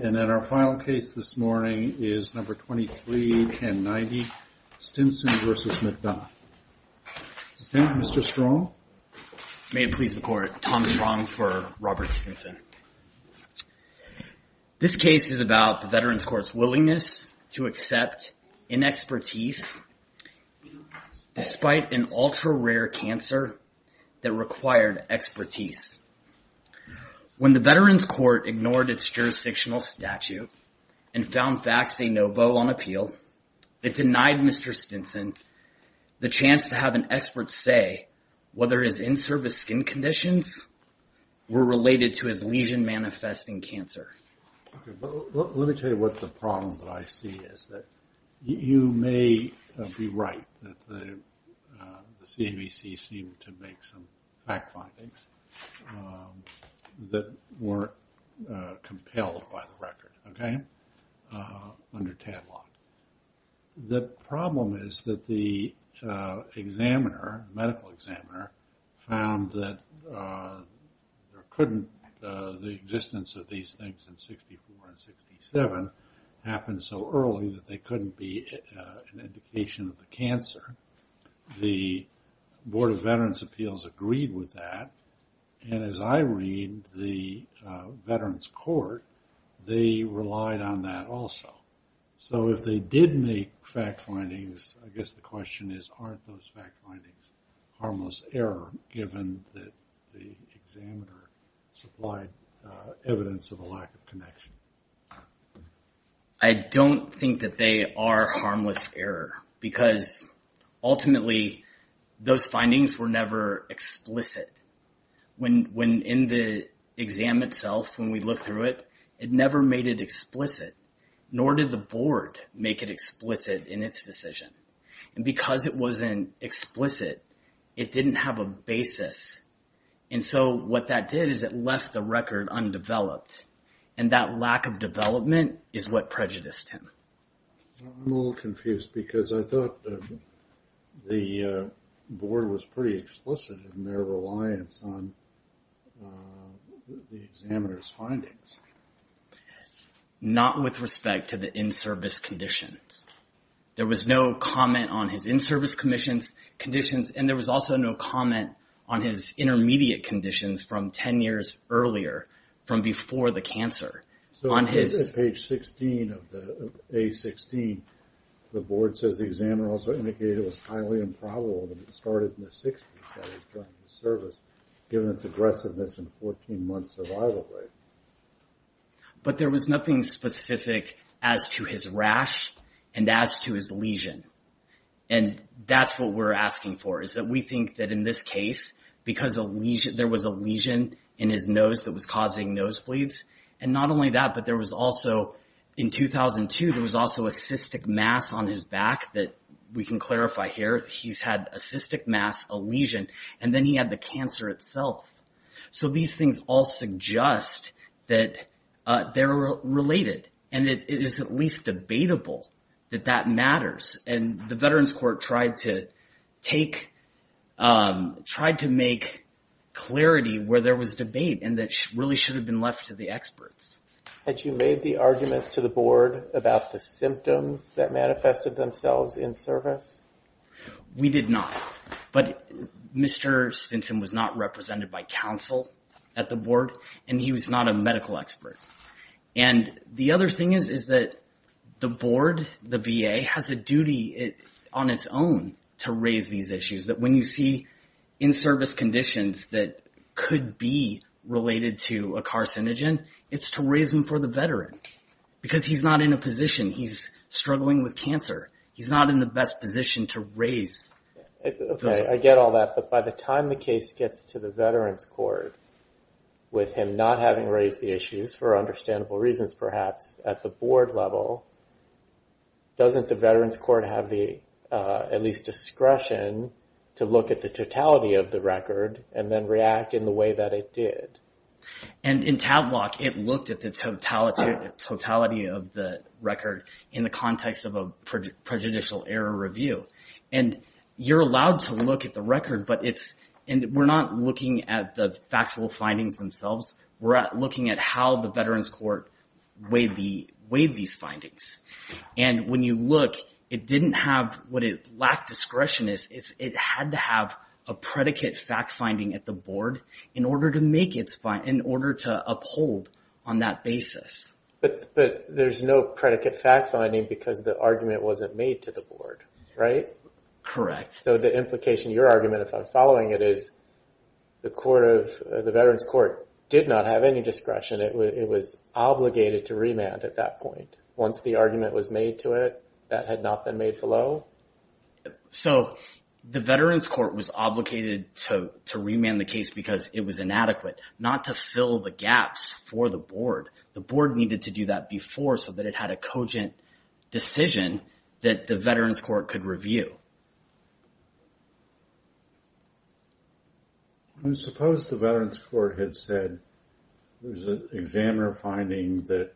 May it please the Court, Tom Strong for Robert Stinson. This case is about the Veterans Court's willingness to accept inexpertise despite an ultra-rare cancer that required expertise. When the Veterans Court ignored its jurisdictional statute and found facts say no vote on appeal, it denied Mr. Stinson the chance to have an expert say whether his in-service skin conditions were related to his lesion manifesting cancer. Let me tell you what the problem that I see is that you may be right that the CAVC seemed to make some fact findings that weren't compelled by the record, okay, under Tadlock. The problem is that the examiner, medical examiner, found that there couldn't, the existence of these things in 64 and 67 happened so early that they couldn't be an indication of the cancer. The Board of Veterans Appeals agreed with that and as I read the Veterans Court, they relied on that also. So if they did make fact findings, I guess the question is aren't those fact findings harmless error given that the examiner supplied evidence of a lack of connection? I don't think that they are harmless error because ultimately those findings were never explicit. When in the exam itself, when we look through it, it never made it explicit, nor did the board make it explicit in its decision. And because it wasn't explicit, it didn't have a basis. And so what that did is it left the record undeveloped. And that lack of development is what prejudiced him. I'm a little confused because I thought the board was pretty explicit in their reliance on the examiner's findings. Not with respect to the in-service conditions. There was no comment on his in-service conditions and there was also no comment on his intermediate conditions from 10 years earlier, from before the cancer. On page 16 of the A-16, the board says the examiner also indicated it was highly improbable that it started in the 60s that he was trying to service given its aggressiveness and 14 month survival rate. But there was nothing specific as to his rash and as to his lesion. And that's what we're asking for, is that we think that in this case, because there was a lesion in his nose that was causing nosebleeds, and not only that, but there was also in 2002, there was also a cystic mass on his back that we can clarify here. He's had a cystic mass, a lesion, and then he had the cancer itself. So these things all suggest that they're related and that it is at least debatable that that matters. And the Veterans Court tried to make clarity where there was debate and that really should have been left to the experts. Had you made the arguments to the board about the symptoms that manifested themselves in service? We did not. But Mr. Stinson was not represented by counsel at the board, and he was not a medical expert. And the other thing is, is that the board, the VA, has a duty on its own to raise these issues that when you see in-service conditions that could be related to a carcinogen, it's to raise them for the veteran. Because he's not in a position, he's struggling with cancer. He's not in the best position to raise those. Okay. I get all that. But by the time the case gets to the Veterans Court, with him not having raised the issues, for understandable reasons perhaps, at the board level, doesn't the Veterans Court have the at least discretion to look at the totality of the record and then react in the way that it did? And in Tadblock, it looked at the totality of the record in the context of a prejudicial error review. And you're allowed to look at the record, but it's, and we're not looking at the factual findings themselves. We're looking at how the Veterans Court weighed these findings. And when you look, it didn't have what it lacked discretion is, it had to have a predicate fact-finding at the board in order to make its, in order to uphold on that basis. But there's no predicate fact-finding because the argument wasn't made to the board, right? Correct. So the implication of your argument, if I'm following it, is the court of, the Veterans Court did not have any discretion. It was obligated to remand at that point. Once the argument was made to it, that had not been made below? So, the Veterans Court was obligated to remand the case because it was inadequate. Not to fill the gaps for the board. The board needed to do that before so that it had a cogent decision that the Veterans Court could review. I suppose the Veterans Court had said, there's an examiner finding that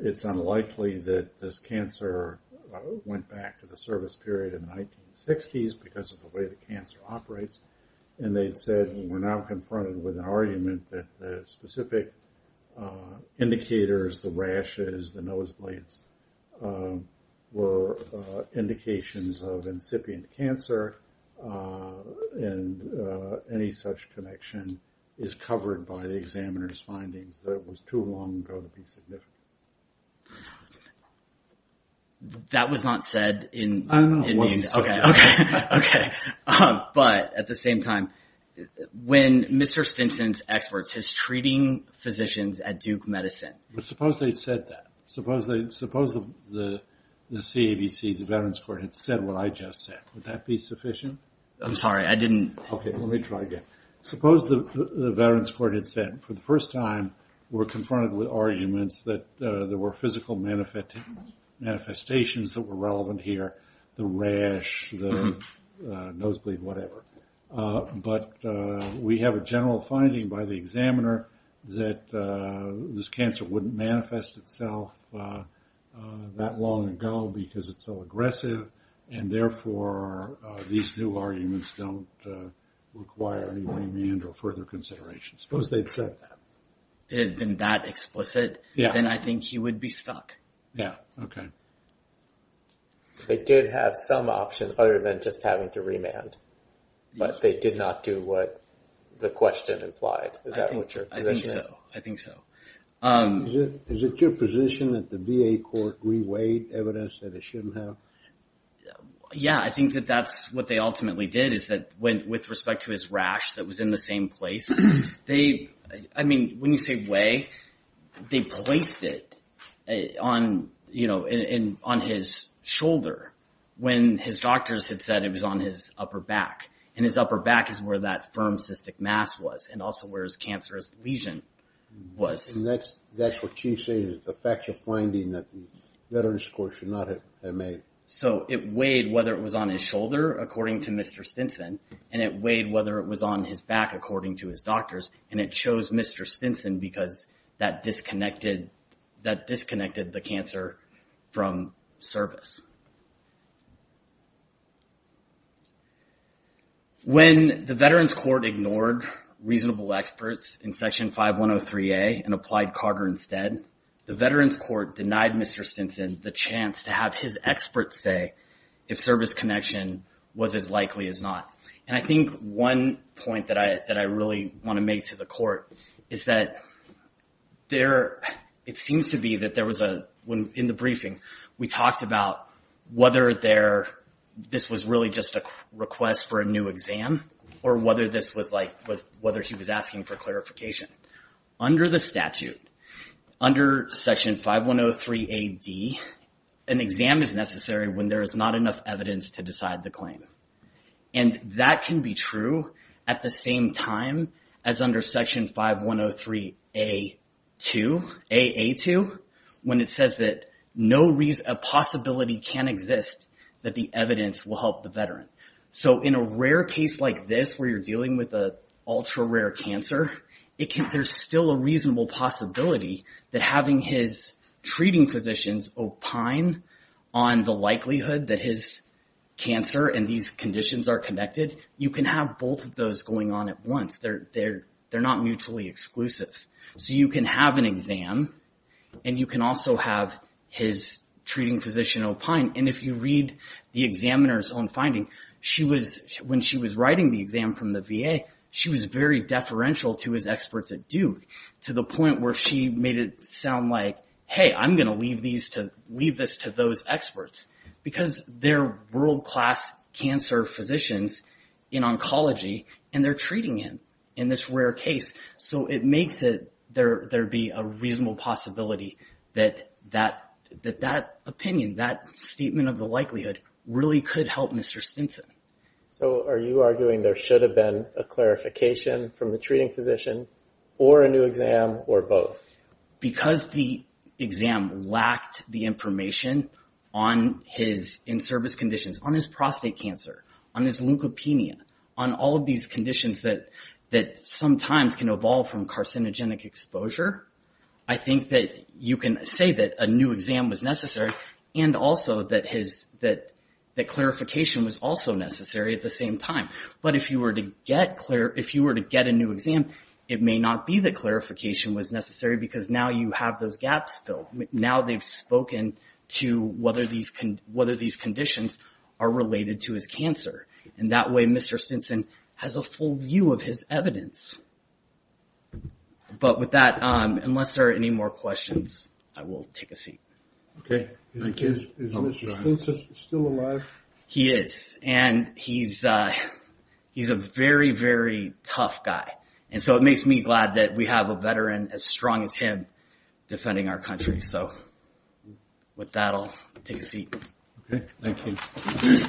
it's unlikely that this cancer went back to the service period in the 1960s because of the way the cancer operates. And they'd said, we're now confronted with an argument that the specific indicators, the rashes, the nose blades, were indications of incipient cancer and any such connection is covered by the examiner's findings that it was too long ago to be significant. That was not said in the, okay, but at the same time, when Mr. Stinson's experts, his treating physicians at Duke Medicine. Suppose they'd said that. Suppose the CAVC, the Veterans Court, had said what I just said. Would that be sufficient? I'm sorry, I didn't. Okay, let me try again. Suppose the Veterans Court had said, for the first time, we're confronted with arguments that there were physical manifestations that were relevant here. The rash, the nosebleed, whatever. But we have a general finding by the examiner that this cancer wouldn't manifest itself that long ago because it's so aggressive. And therefore, these new arguments don't require any remand or further consideration. Suppose they'd said that. If it had been that explicit, then I think he would be stuck. Yeah, okay. They did have some options other than just having to remand, but they did not do what the question implied. I think so. I think so. Is it your position that the VA court re-weighed evidence that it shouldn't have? Yeah, I think that that's what they ultimately did is that with respect to his rash that was in the same place, they, I mean, when you say weigh, they placed it on his shoulder when his doctors had said it was on his upper back. And his upper back is where that firm cystic mass was and also where his cancerous lesion was. Yes. And that's what Chief's saying is the facts of finding that the Veterans Court should not have made. So it weighed whether it was on his shoulder, according to Mr. Stinson, and it weighed whether it was on his back, according to his doctors, and it chose Mr. Stinson because that disconnected the cancer from service. When the Veterans Court ignored reasonable experts in Section 5103A and applied Carter instead, the Veterans Court denied Mr. Stinson the chance to have his experts say if service connection was as likely as not. And I think one point that I really want to make to the court is that there, it seems to be that there was a, in the briefing, we talked about whether there, this was really just a request for a new exam or whether this was like, whether he was asking for clarification. Under the statute, under Section 5103AD, an exam is necessary when there is not enough evidence to decide the claim. And that can be true at the same time as under Section 5103AA2, when it says that no possibility can exist that the evidence will help the Veteran. So in a rare case like this, where you're dealing with a ultra rare cancer, there's still a reasonable possibility that having his treating physicians opine on the likelihood that his cancer and these conditions are connected, you can have both of those going on at once. They're not mutually exclusive. So you can have an exam and you can also have his treating physician opine. And if you read the examiner's own finding, she was, when she was writing the exam from the VA, she was very deferential to his experts at Duke, to the point where she made it sound like, hey, I'm going to leave these to, leave this to those experts. Because they're world-class cancer physicians in oncology, and they're treating him in this rare case. So it makes it, there'd be a reasonable possibility that that opinion, that statement of the likelihood really could help Mr. Stinson. So are you arguing there should have been a clarification from the treating physician or a new exam or both? Because the exam lacked the information on his in-service conditions, on his prostate cancer, on his leukopenia, on all of these conditions that sometimes can evolve from carcinogenic exposure, I think that you can say that a new exam was necessary and also that his, that clarification was also necessary at the same time. But if you were to get, if you were to get a new exam, it may not be that clarification was necessary because now you have those gaps filled. Now they've spoken to whether these conditions are related to his cancer. And that way, Mr. Stinson has a full view of his evidence. But with that, unless there are any more questions, I will take a seat. Okay. Thank you. Is Mr. Stinson still alive? He is. And he's a very, very tough guy. And so it makes me glad that we have a veteran as strong as him defending our country. So with that, I'll take a seat. Okay. Thank you. Go ahead.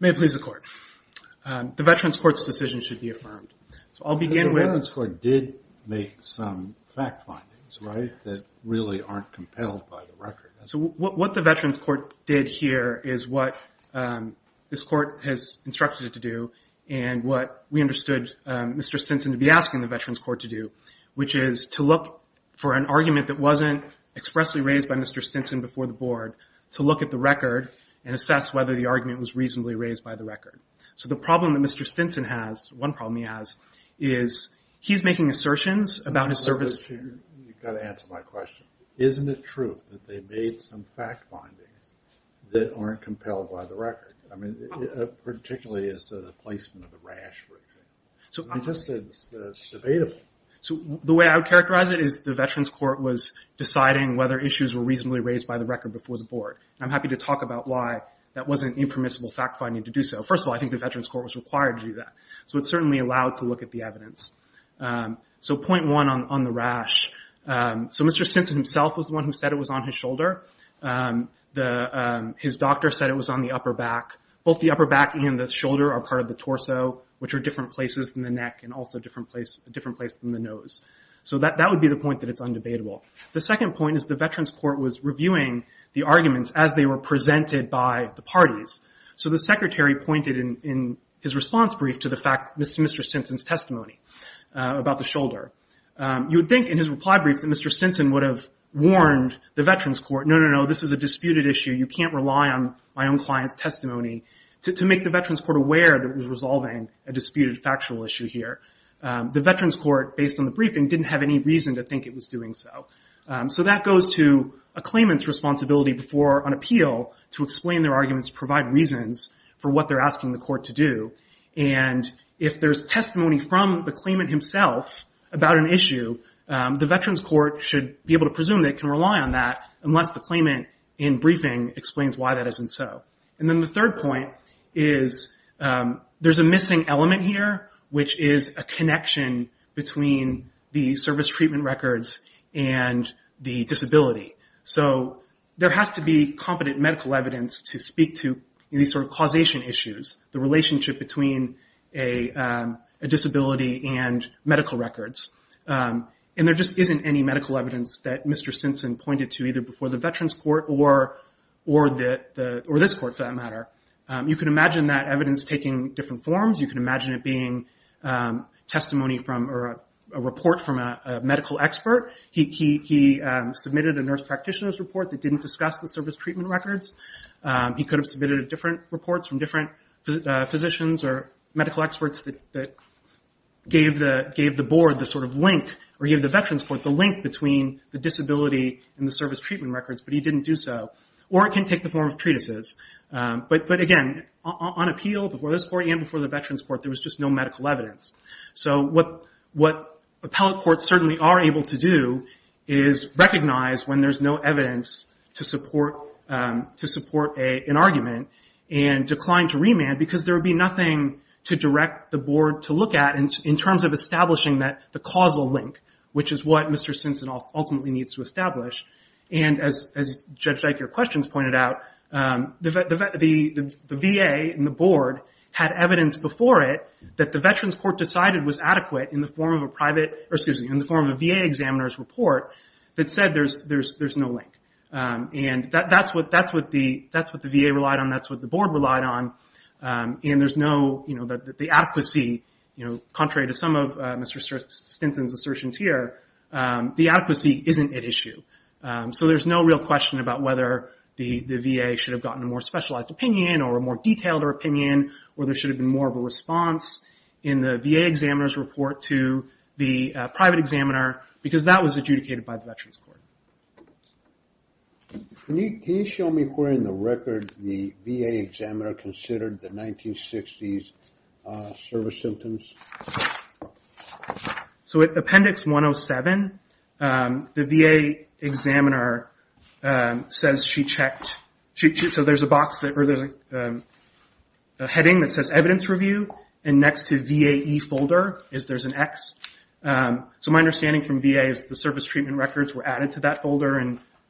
May it please the Court. The Veterans Court's decision should be affirmed. So I'll begin with... The Veterans Court did make some fact findings, right, that really aren't compelled by the record. So what the Veterans Court did here is what this Court has instructed it to do and what we understood Mr. Stinson to be asking the Veterans Court to do, which is to look for an argument that wasn't expressly raised by Mr. Stinson before the Board, to look at the record and assess whether the argument was reasonably raised by the record. So the problem that Mr. Stinson has, one problem he has, is he's making assertions about his service... You've got to answer my question. Isn't it true that they made some fact findings that aren't compelled by the record? I mean, particularly as to the placement of the rash, for example. So I'm just... It's debatable. So the way I would characterize it is the Veterans Court was deciding whether issues were reasonably raised by the record before the Board. I'm happy to talk about why that wasn't impermissible fact finding to do so. First of all, I think the Veterans Court was required to do that. So it certainly allowed to look at the evidence. So point one on the rash. So Mr. Stinson himself was the one who said it was on his shoulder. His doctor said it was on the upper back. Both the upper back and the shoulder are part of the torso, which are different places than the neck and also a different place than the nose. So that would be the point that it's undebatable. The second point is the Veterans Court was reviewing the arguments as they were presented by the parties. So the Secretary pointed in his response brief to the fact Mr. Stinson's testimony about the shoulder. You would think in his reply brief that Mr. Stinson would have warned the Veterans Court, no, no, no, this is a disputed issue. You can't rely on my own client's testimony to make the Veterans Court aware that it was resolving a disputed factual issue here. The Veterans Court, based on the briefing, didn't have any reason to think it was doing so. So that goes to a claimant's responsibility before an appeal to explain their arguments to provide reasons for what they're asking the court to do. And if there's testimony from the claimant himself about an issue, the Veterans Court should be able to presume they can rely on that unless the claimant, in briefing, explains why that isn't so. And then the third point is there's a missing element here, which is a connection between the service treatment records and the disability. So there has to be competent medical evidence to speak to any sort of causation issues, the relationship between a disability and medical records. And there just isn't any medical evidence that Mr. Stinson pointed to either before the Veterans Court or this court, for that matter. You can imagine that evidence taking different forms. You can imagine it being testimony from or a report from a medical expert. He submitted a nurse practitioner's report that didn't discuss the service treatment records. He could have submitted different reports from different physicians or medical experts that gave the board the sort of link or gave the Veterans Court the link between the disability and the service treatment records, but he didn't do so. Or it can take the form of treatises. But again, on appeal before this court and before the Veterans Court, there was just no medical evidence. So what appellate courts certainly are able to do is recognize when there's no evidence to support an argument and decline to remand because there would be nothing to direct the board to look at in terms of establishing the causal link, which is what Mr. Stinson ultimately needs to establish. And as Judge Dyke, your questions pointed out, the VA and the board had evidence before it that the Veterans Court decided was adequate in the form of a VA examiner's report that said there's no link. And that's what the VA relied on, that's what the board relied on, and the adequacy, contrary to some of Mr. Stinson's assertions here, the adequacy isn't at issue. So there's no real question about whether the VA should have gotten a more specialized opinion or a more detailed opinion, or there should have been more of a response in the VA examiner's report to the private examiner because that was adjudicated by the Veterans Court. Can you show me where in the record the VA examiner considered the 1960s service symptoms? So at Appendix 107, the VA examiner says she checked, so there's a box that, or there's a heading that says Evidence Review, and next to VAE folder is there's an X. So my understanding from VA is the service treatment records were added to that folder,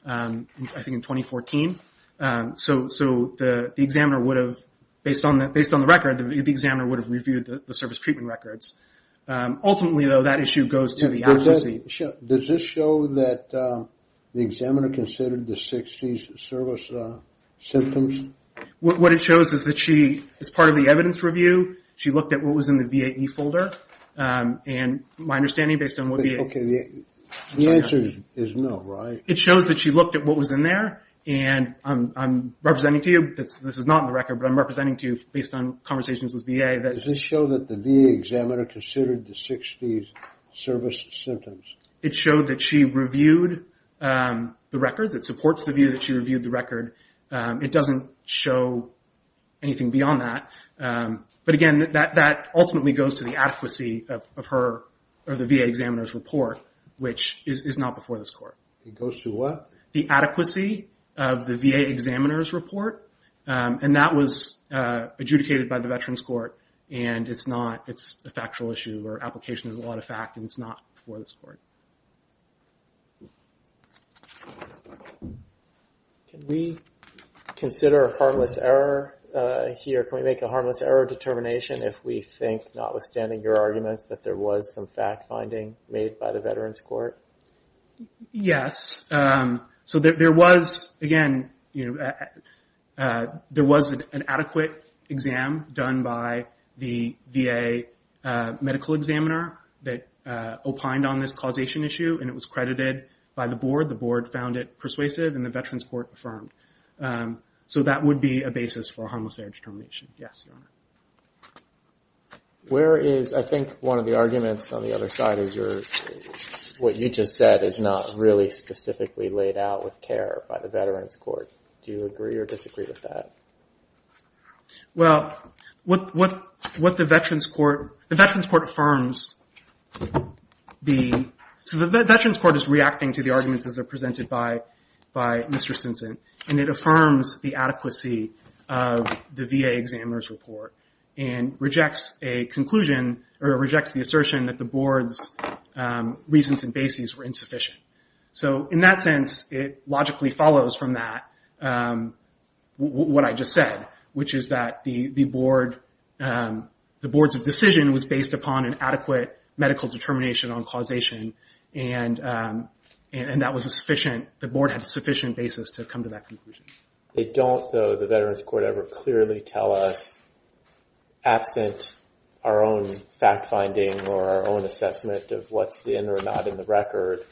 I think in 2014. So the examiner would have, based on the record, the examiner would have reviewed the service treatment records. Ultimately, though, that issue goes to the advocacy. Does this show that the examiner considered the 1960s service symptoms? What it shows is that she, as part of the evidence review, she looked at what was in the VAE folder, and my understanding based on what VAE... Okay, the answer is no, right? It shows that she looked at what was in there, and I'm representing to you, this is not in the record, but I'm representing to you based on conversations with VA that... Okay, does this show that the VA examiner considered the 60s service symptoms? It showed that she reviewed the records, it supports the view that she reviewed the record. It doesn't show anything beyond that. But again, that ultimately goes to the advocacy of her or the VA examiner's report, which is not before this court. It goes to what? The adequacy of the VA examiner's report, and that was adjudicated by the Veterans Court, and it's not...it's a factual issue where application is a lot of fact, and it's not before this court. Can we consider a harmless error here? Can we make a harmless error determination if we think, notwithstanding your arguments, that there was some fact-finding made by the Veterans Court? Yes. So there was, again, there was an adequate exam done by the VA medical examiner that opined on this causation issue, and it was credited by the board. The board found it persuasive, and the Veterans Court affirmed. So that would be a basis for a harmless error determination. Yes, Your Honor. Where is, I think, one of the arguments on the other side is your... what you just said is not really specifically laid out with care by the Veterans Court. Do you agree or disagree with that? Well, what the Veterans Court...the Veterans Court affirms the... so the Veterans Court is reacting to the arguments as they're presented by Mr. Stinson, and it affirms the adequacy of the VA examiner's report and rejects a conclusion or rejects the assertion that the board's reasons and bases were insufficient. So in that sense, it logically follows from that, what I just said, which is that the board's decision was based upon an adequate medical determination on causation, and that was a sufficient...the board had a sufficient basis to come to that conclusion. They don't, though, the Veterans Court ever clearly tell us, absent our own fact-finding or our own assessment of what's in or not in the record,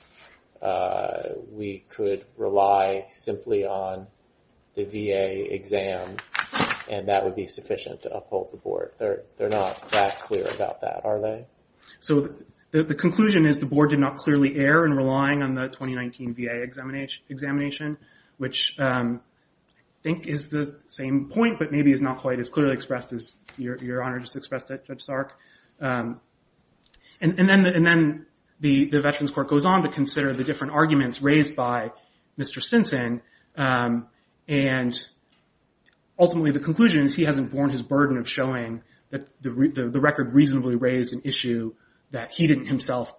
we could rely simply on the VA exam, and that would be sufficient to uphold the board. They're not that clear about that, are they? So the conclusion is the board did not clearly err in relying on the 2019 VA examination, which I think is the same point, but maybe is not quite as clearly expressed as Your Honor just expressed it, Judge Stark. And then the Veterans Court goes on to consider the different arguments raised by Mr. Stinson, and ultimately the conclusion is he hasn't borne his burden of showing that the record reasonably raised an issue that he didn't himself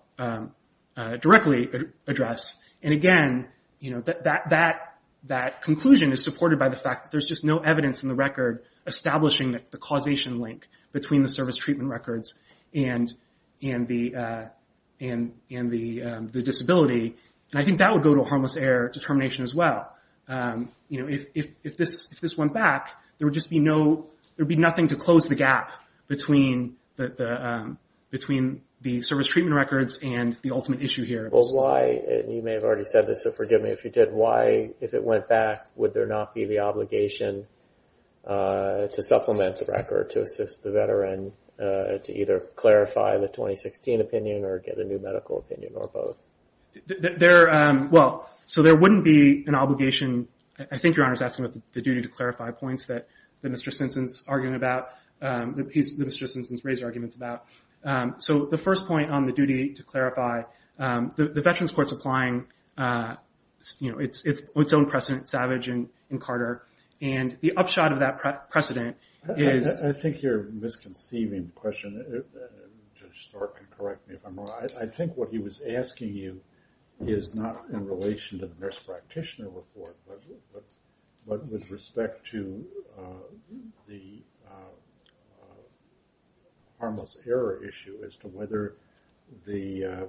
directly address. And again, that conclusion is supported by the fact that there's just no evidence in the record establishing the causation link between the service treatment records and the disability, and I think that would go to a harmless error determination as well. If this went back, there would be nothing to close the gap between the service treatment records and the ultimate issue here. You may have already said this, so forgive me if you did. Why, if it went back, would there not be the obligation to supplement the record to assist the veteran to either clarify the 2016 opinion or get a new medical opinion or both? Well, so there wouldn't be an obligation. I think Your Honor's asking about the duty to clarify points that Mr. Stinson's arguing about, the piece that Mr. Stinson's raised arguments about. So the first point on the duty to clarify, the Veterans Court's applying its own precedent, Savage and Carter, and the upshot of that precedent is… I think you're misconceiving the question. Judge Stark can correct me if I'm wrong. I think what he was asking you is not in relation to the nurse practitioner report, but with respect to the harmless error issue as to whether the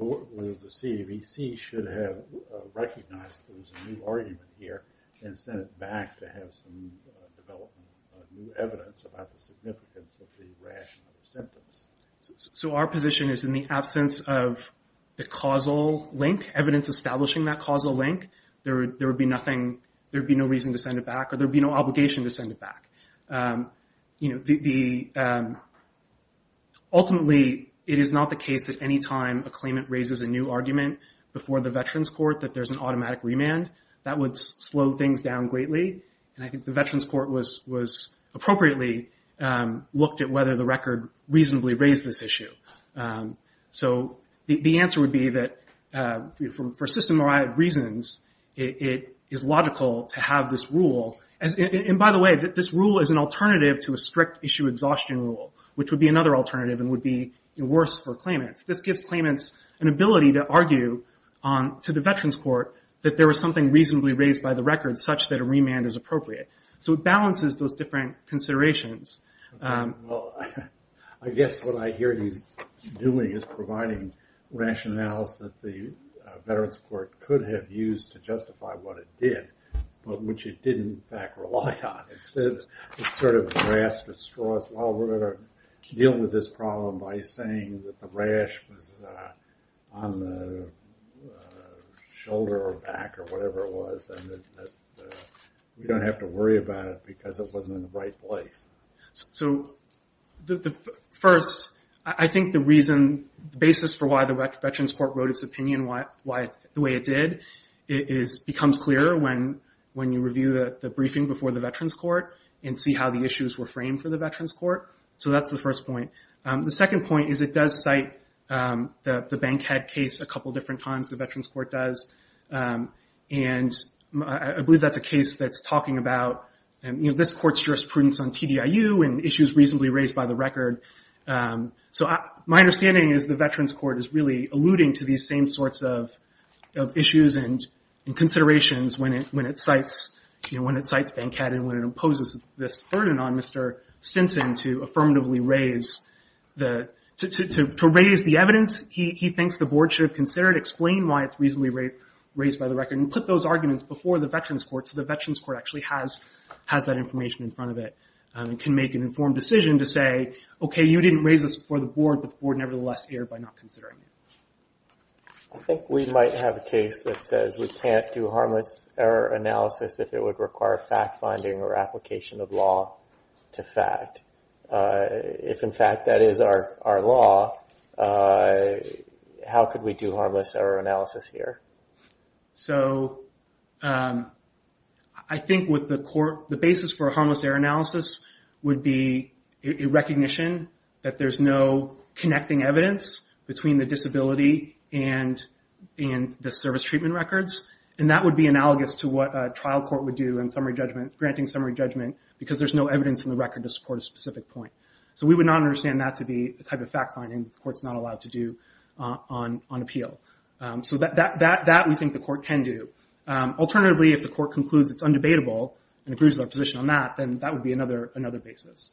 CAVC should have recognized that there was a new argument here and sent it back to have some development, new evidence about the significance of the rash and other symptoms. So our position is in the absence of the causal link, evidence establishing that causal link, there would be no reason to send it back or there would be no obligation to send it back. Ultimately, it is not the case that any time a claimant raises a new argument before the Veterans Court that there's an automatic remand. That would slow things down greatly. And I think the Veterans Court was appropriately looked at whether the record reasonably raised this issue. So the answer would be that for system-wide reasons, it is logical to have this rule. And by the way, this rule is an alternative to a strict issue exhaustion rule, which would be another alternative and would be worse for claimants. This gives claimants an ability to argue to the Veterans Court that there was something reasonably raised by the record such that a remand is appropriate. So it balances those different considerations. Well, I guess what I hear you doing is providing rationales that the Veterans Court could have used to justify what it did, but which it didn't, in fact, rely on. Instead, it sort of grasped at straws. Well, we're going to deal with this problem by saying that the rash was on the shoulder or back or whatever it was and that we don't have to worry about it because it wasn't in the right place. So first, I think the reason, the basis for why the Veterans Court wrote its opinion the way it did, becomes clearer when you review the briefing before the Veterans Court and see how the issues were framed for the Veterans Court. So that's the first point. The second point is it does cite the Bankhead case a couple different times, the Veterans Court does. And I believe that's a case that's talking about this court's jurisprudence on TDIU and issues reasonably raised by the record. So my understanding is the Veterans Court is really alluding to these same sorts of issues and considerations when it cites Bankhead and when it imposes this burden on Mr. Stinson to affirmatively raise the evidence. He thinks the board should have considered, explained why it's reasonably raised by the record and put those arguments before the Veterans Court so the Veterans Court actually has that information in front of it and can make an informed decision to say, okay, you didn't raise this before the board, but the board nevertheless erred by not considering it. I think we might have a case that says we can't do harmless error analysis if it would require fact-finding or application of law to fact. If, in fact, that is our law, how could we do harmless error analysis here? So I think with the court, the basis for harmless error analysis would be a recognition that there's no connecting evidence between the disability and the service treatment records. And that would be analogous to what a trial court would do in granting summary judgment because there's no evidence in the record to support a specific point. So we would not understand that to be a type of fact-finding the court's not allowed to do on appeal. So that we think the court can do. Alternatively, if the court concludes it's undebatable and agrees with our position on that, then that would be another basis.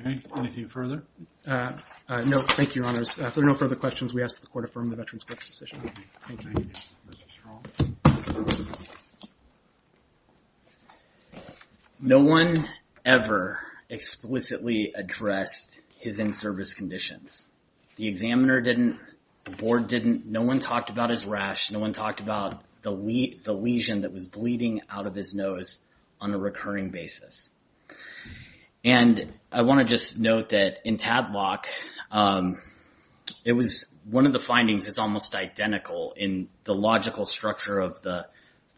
Okay. Anything further? No. Thank you, Your Honors. If there are no further questions, we ask that the court affirm the Veterans Court's decision. Thank you. Thank you, Mr. Strong. No one ever explicitly addressed his in-service conditions. The examiner didn't. The board didn't. No one talked about his rash. No one talked about the lesion that was bleeding out of his nose on a recurring basis. And I want to just note that in Tadlock, it was one of the findings that's almost identical in the logical structure of the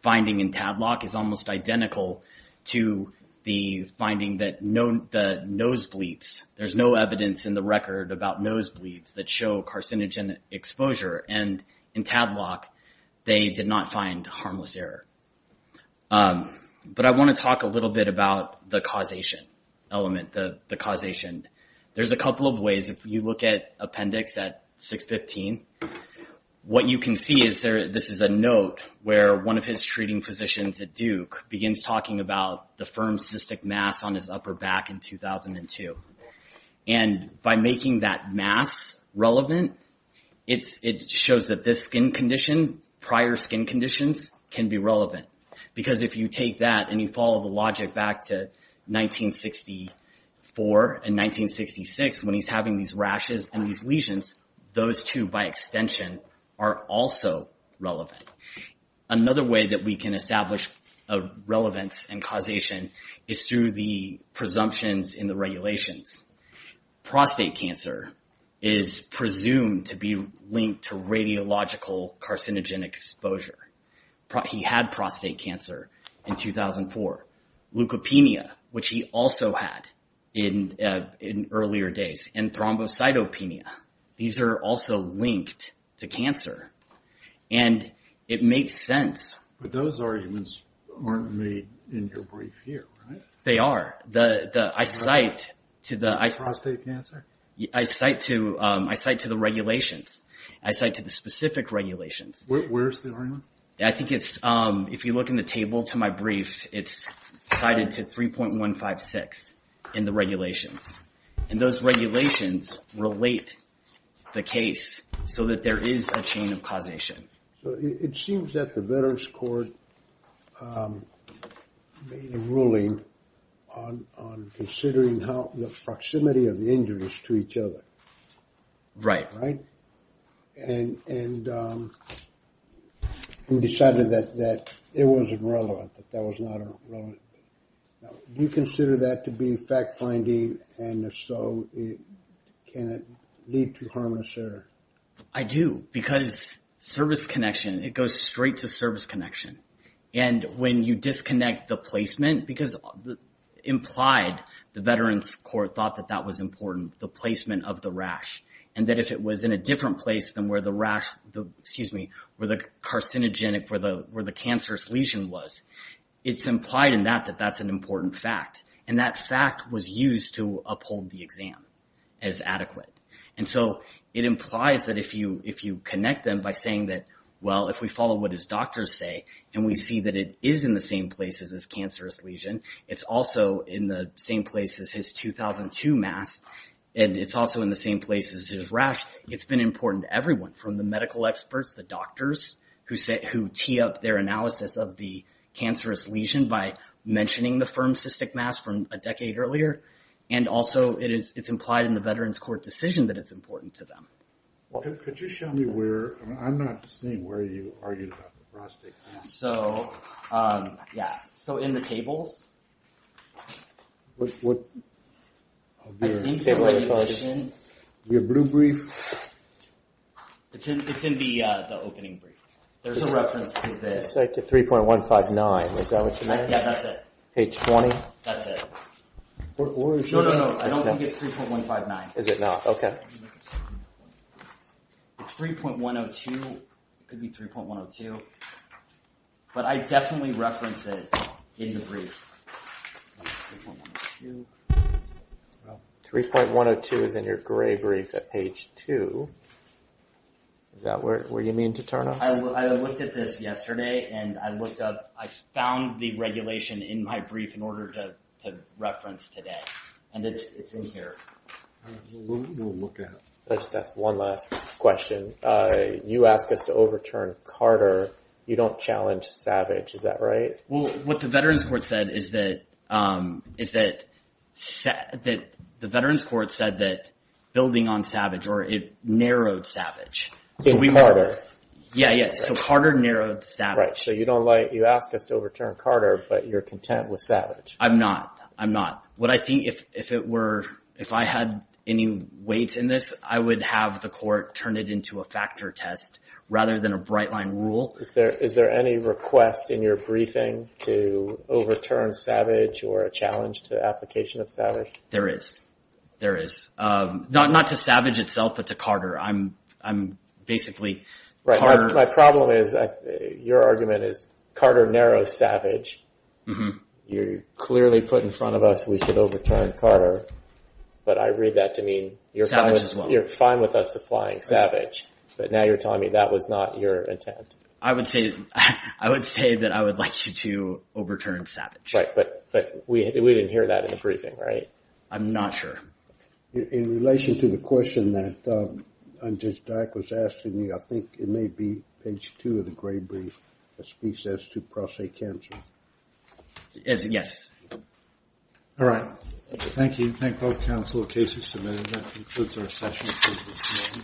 finding in Tadlock is almost identical to the finding that the nose bleeds. There's no evidence in the record about nose bleeds that show carcinogen exposure. And in Tadlock, they did not find harmless error. But I want to talk a little bit about the causation element, the causation. There's a couple of ways. If you look at Appendix at 615, what you can see is this is a note where one of his treating physicians at Duke begins talking about the firm cystic mass on his upper back in 2002. And by making that mass relevant, it shows that this skin condition, prior skin conditions, can be relevant. Because if you take that and you follow the logic back to 1964 and 1966, when he's having these rashes and these lesions, those two, by extension, are also relevant. Another way that we can establish a relevance and causation is through the presumptions in the regulations. Prostate cancer is presumed to be linked to radiological carcinogenic exposure. He had prostate cancer in 2004. Leukopenia, which he also had in earlier days. And thrombocytopenia. These are also linked to cancer. And it makes sense. But those arguments aren't made in your brief here, right? They are. I cite to the... Prostate cancer? I cite to the regulations. I cite to the specific regulations. Where's the argument? I think it's... If you look in the table to my brief, it's cited to 3.156 in the regulations. And those regulations relate the case so that there is a chain of causation. So it seems that the Veterans Court made a ruling on considering the proximity of the injuries to each other. Right. Right? And decided that it wasn't relevant. That that was not relevant. Do you consider that to be fact-finding? And if so, can it lead to harmless error? I do. Because service connection, it goes straight to service connection. And when you disconnect the placement, because implied, the Veterans Court thought that that was important. The placement of the rash. And that if it was in a different place than where the rash, excuse me, where the carcinogenic, where the cancerous lesion was, it's implied in that that that's an important fact. And that fact was used to uphold the exam as adequate. And so it implies that if you connect them by saying that, well, if we follow what his doctors say, and we see that it is in the same place as his cancerous lesion, it's also in the same place as his 2002 mass, and it's also in the same place as his rash. It's been important to everyone, from the medical experts, the doctors, who tee up their analysis of the cancerous lesion by mentioning the firm cystic mass from a decade earlier. And also it's implied in the Veterans Court decision that it's important to them. Could you show me where, I'm not seeing where you argued about the prostate cancer. So, yeah. So in the tables. What? Your blue brief? It's in the opening brief. There's a reference to this. 3.159, is that what you mean? Yeah, that's it. H20? That's it. No, no, no, I don't think it's 3.159. Is it not? Okay. 3.102, it could be 3.102. But I definitely reference it in the brief. 3.102. 3.102 is in your gray brief at page 2. Is that where you mean to turn us? I looked at this yesterday, and I found the regulation in my brief in order to reference today. And it's in here. We'll look at it. I'll just ask one last question. You asked us to overturn Carter. You don't challenge Savage. Is that right? Well, what the Veterans Court said is that the Veterans Court said that building on Savage, or it narrowed Savage. Carter. Yeah, yeah. So Carter narrowed Savage. Right. So you asked us to overturn Carter, but you're content with Savage. I'm not. I'm not. What I think, if I had any weight in this, I would have the court turn it into a factor test rather than a bright-line rule. Is there any request in your briefing to overturn Savage or a challenge to the application of Savage? There is. There is. Not to Savage itself, but to Carter. I'm basically Carter. My problem is your argument is Carter narrows Savage. You clearly put in front of us we should overturn Carter, but I read that to mean you're fine with us applying Savage. But now you're telling me that was not your intent. I would say that I would like you to overturn Savage. Right, but we didn't hear that in the briefing, right? I'm not sure. In relation to the question that Judge Dyck was asking you, I think it may be page two of the gray brief that speaks as to pro se cancer. Yes. All right. Thank you. Thank both counsel. The case is submitted. That concludes our session.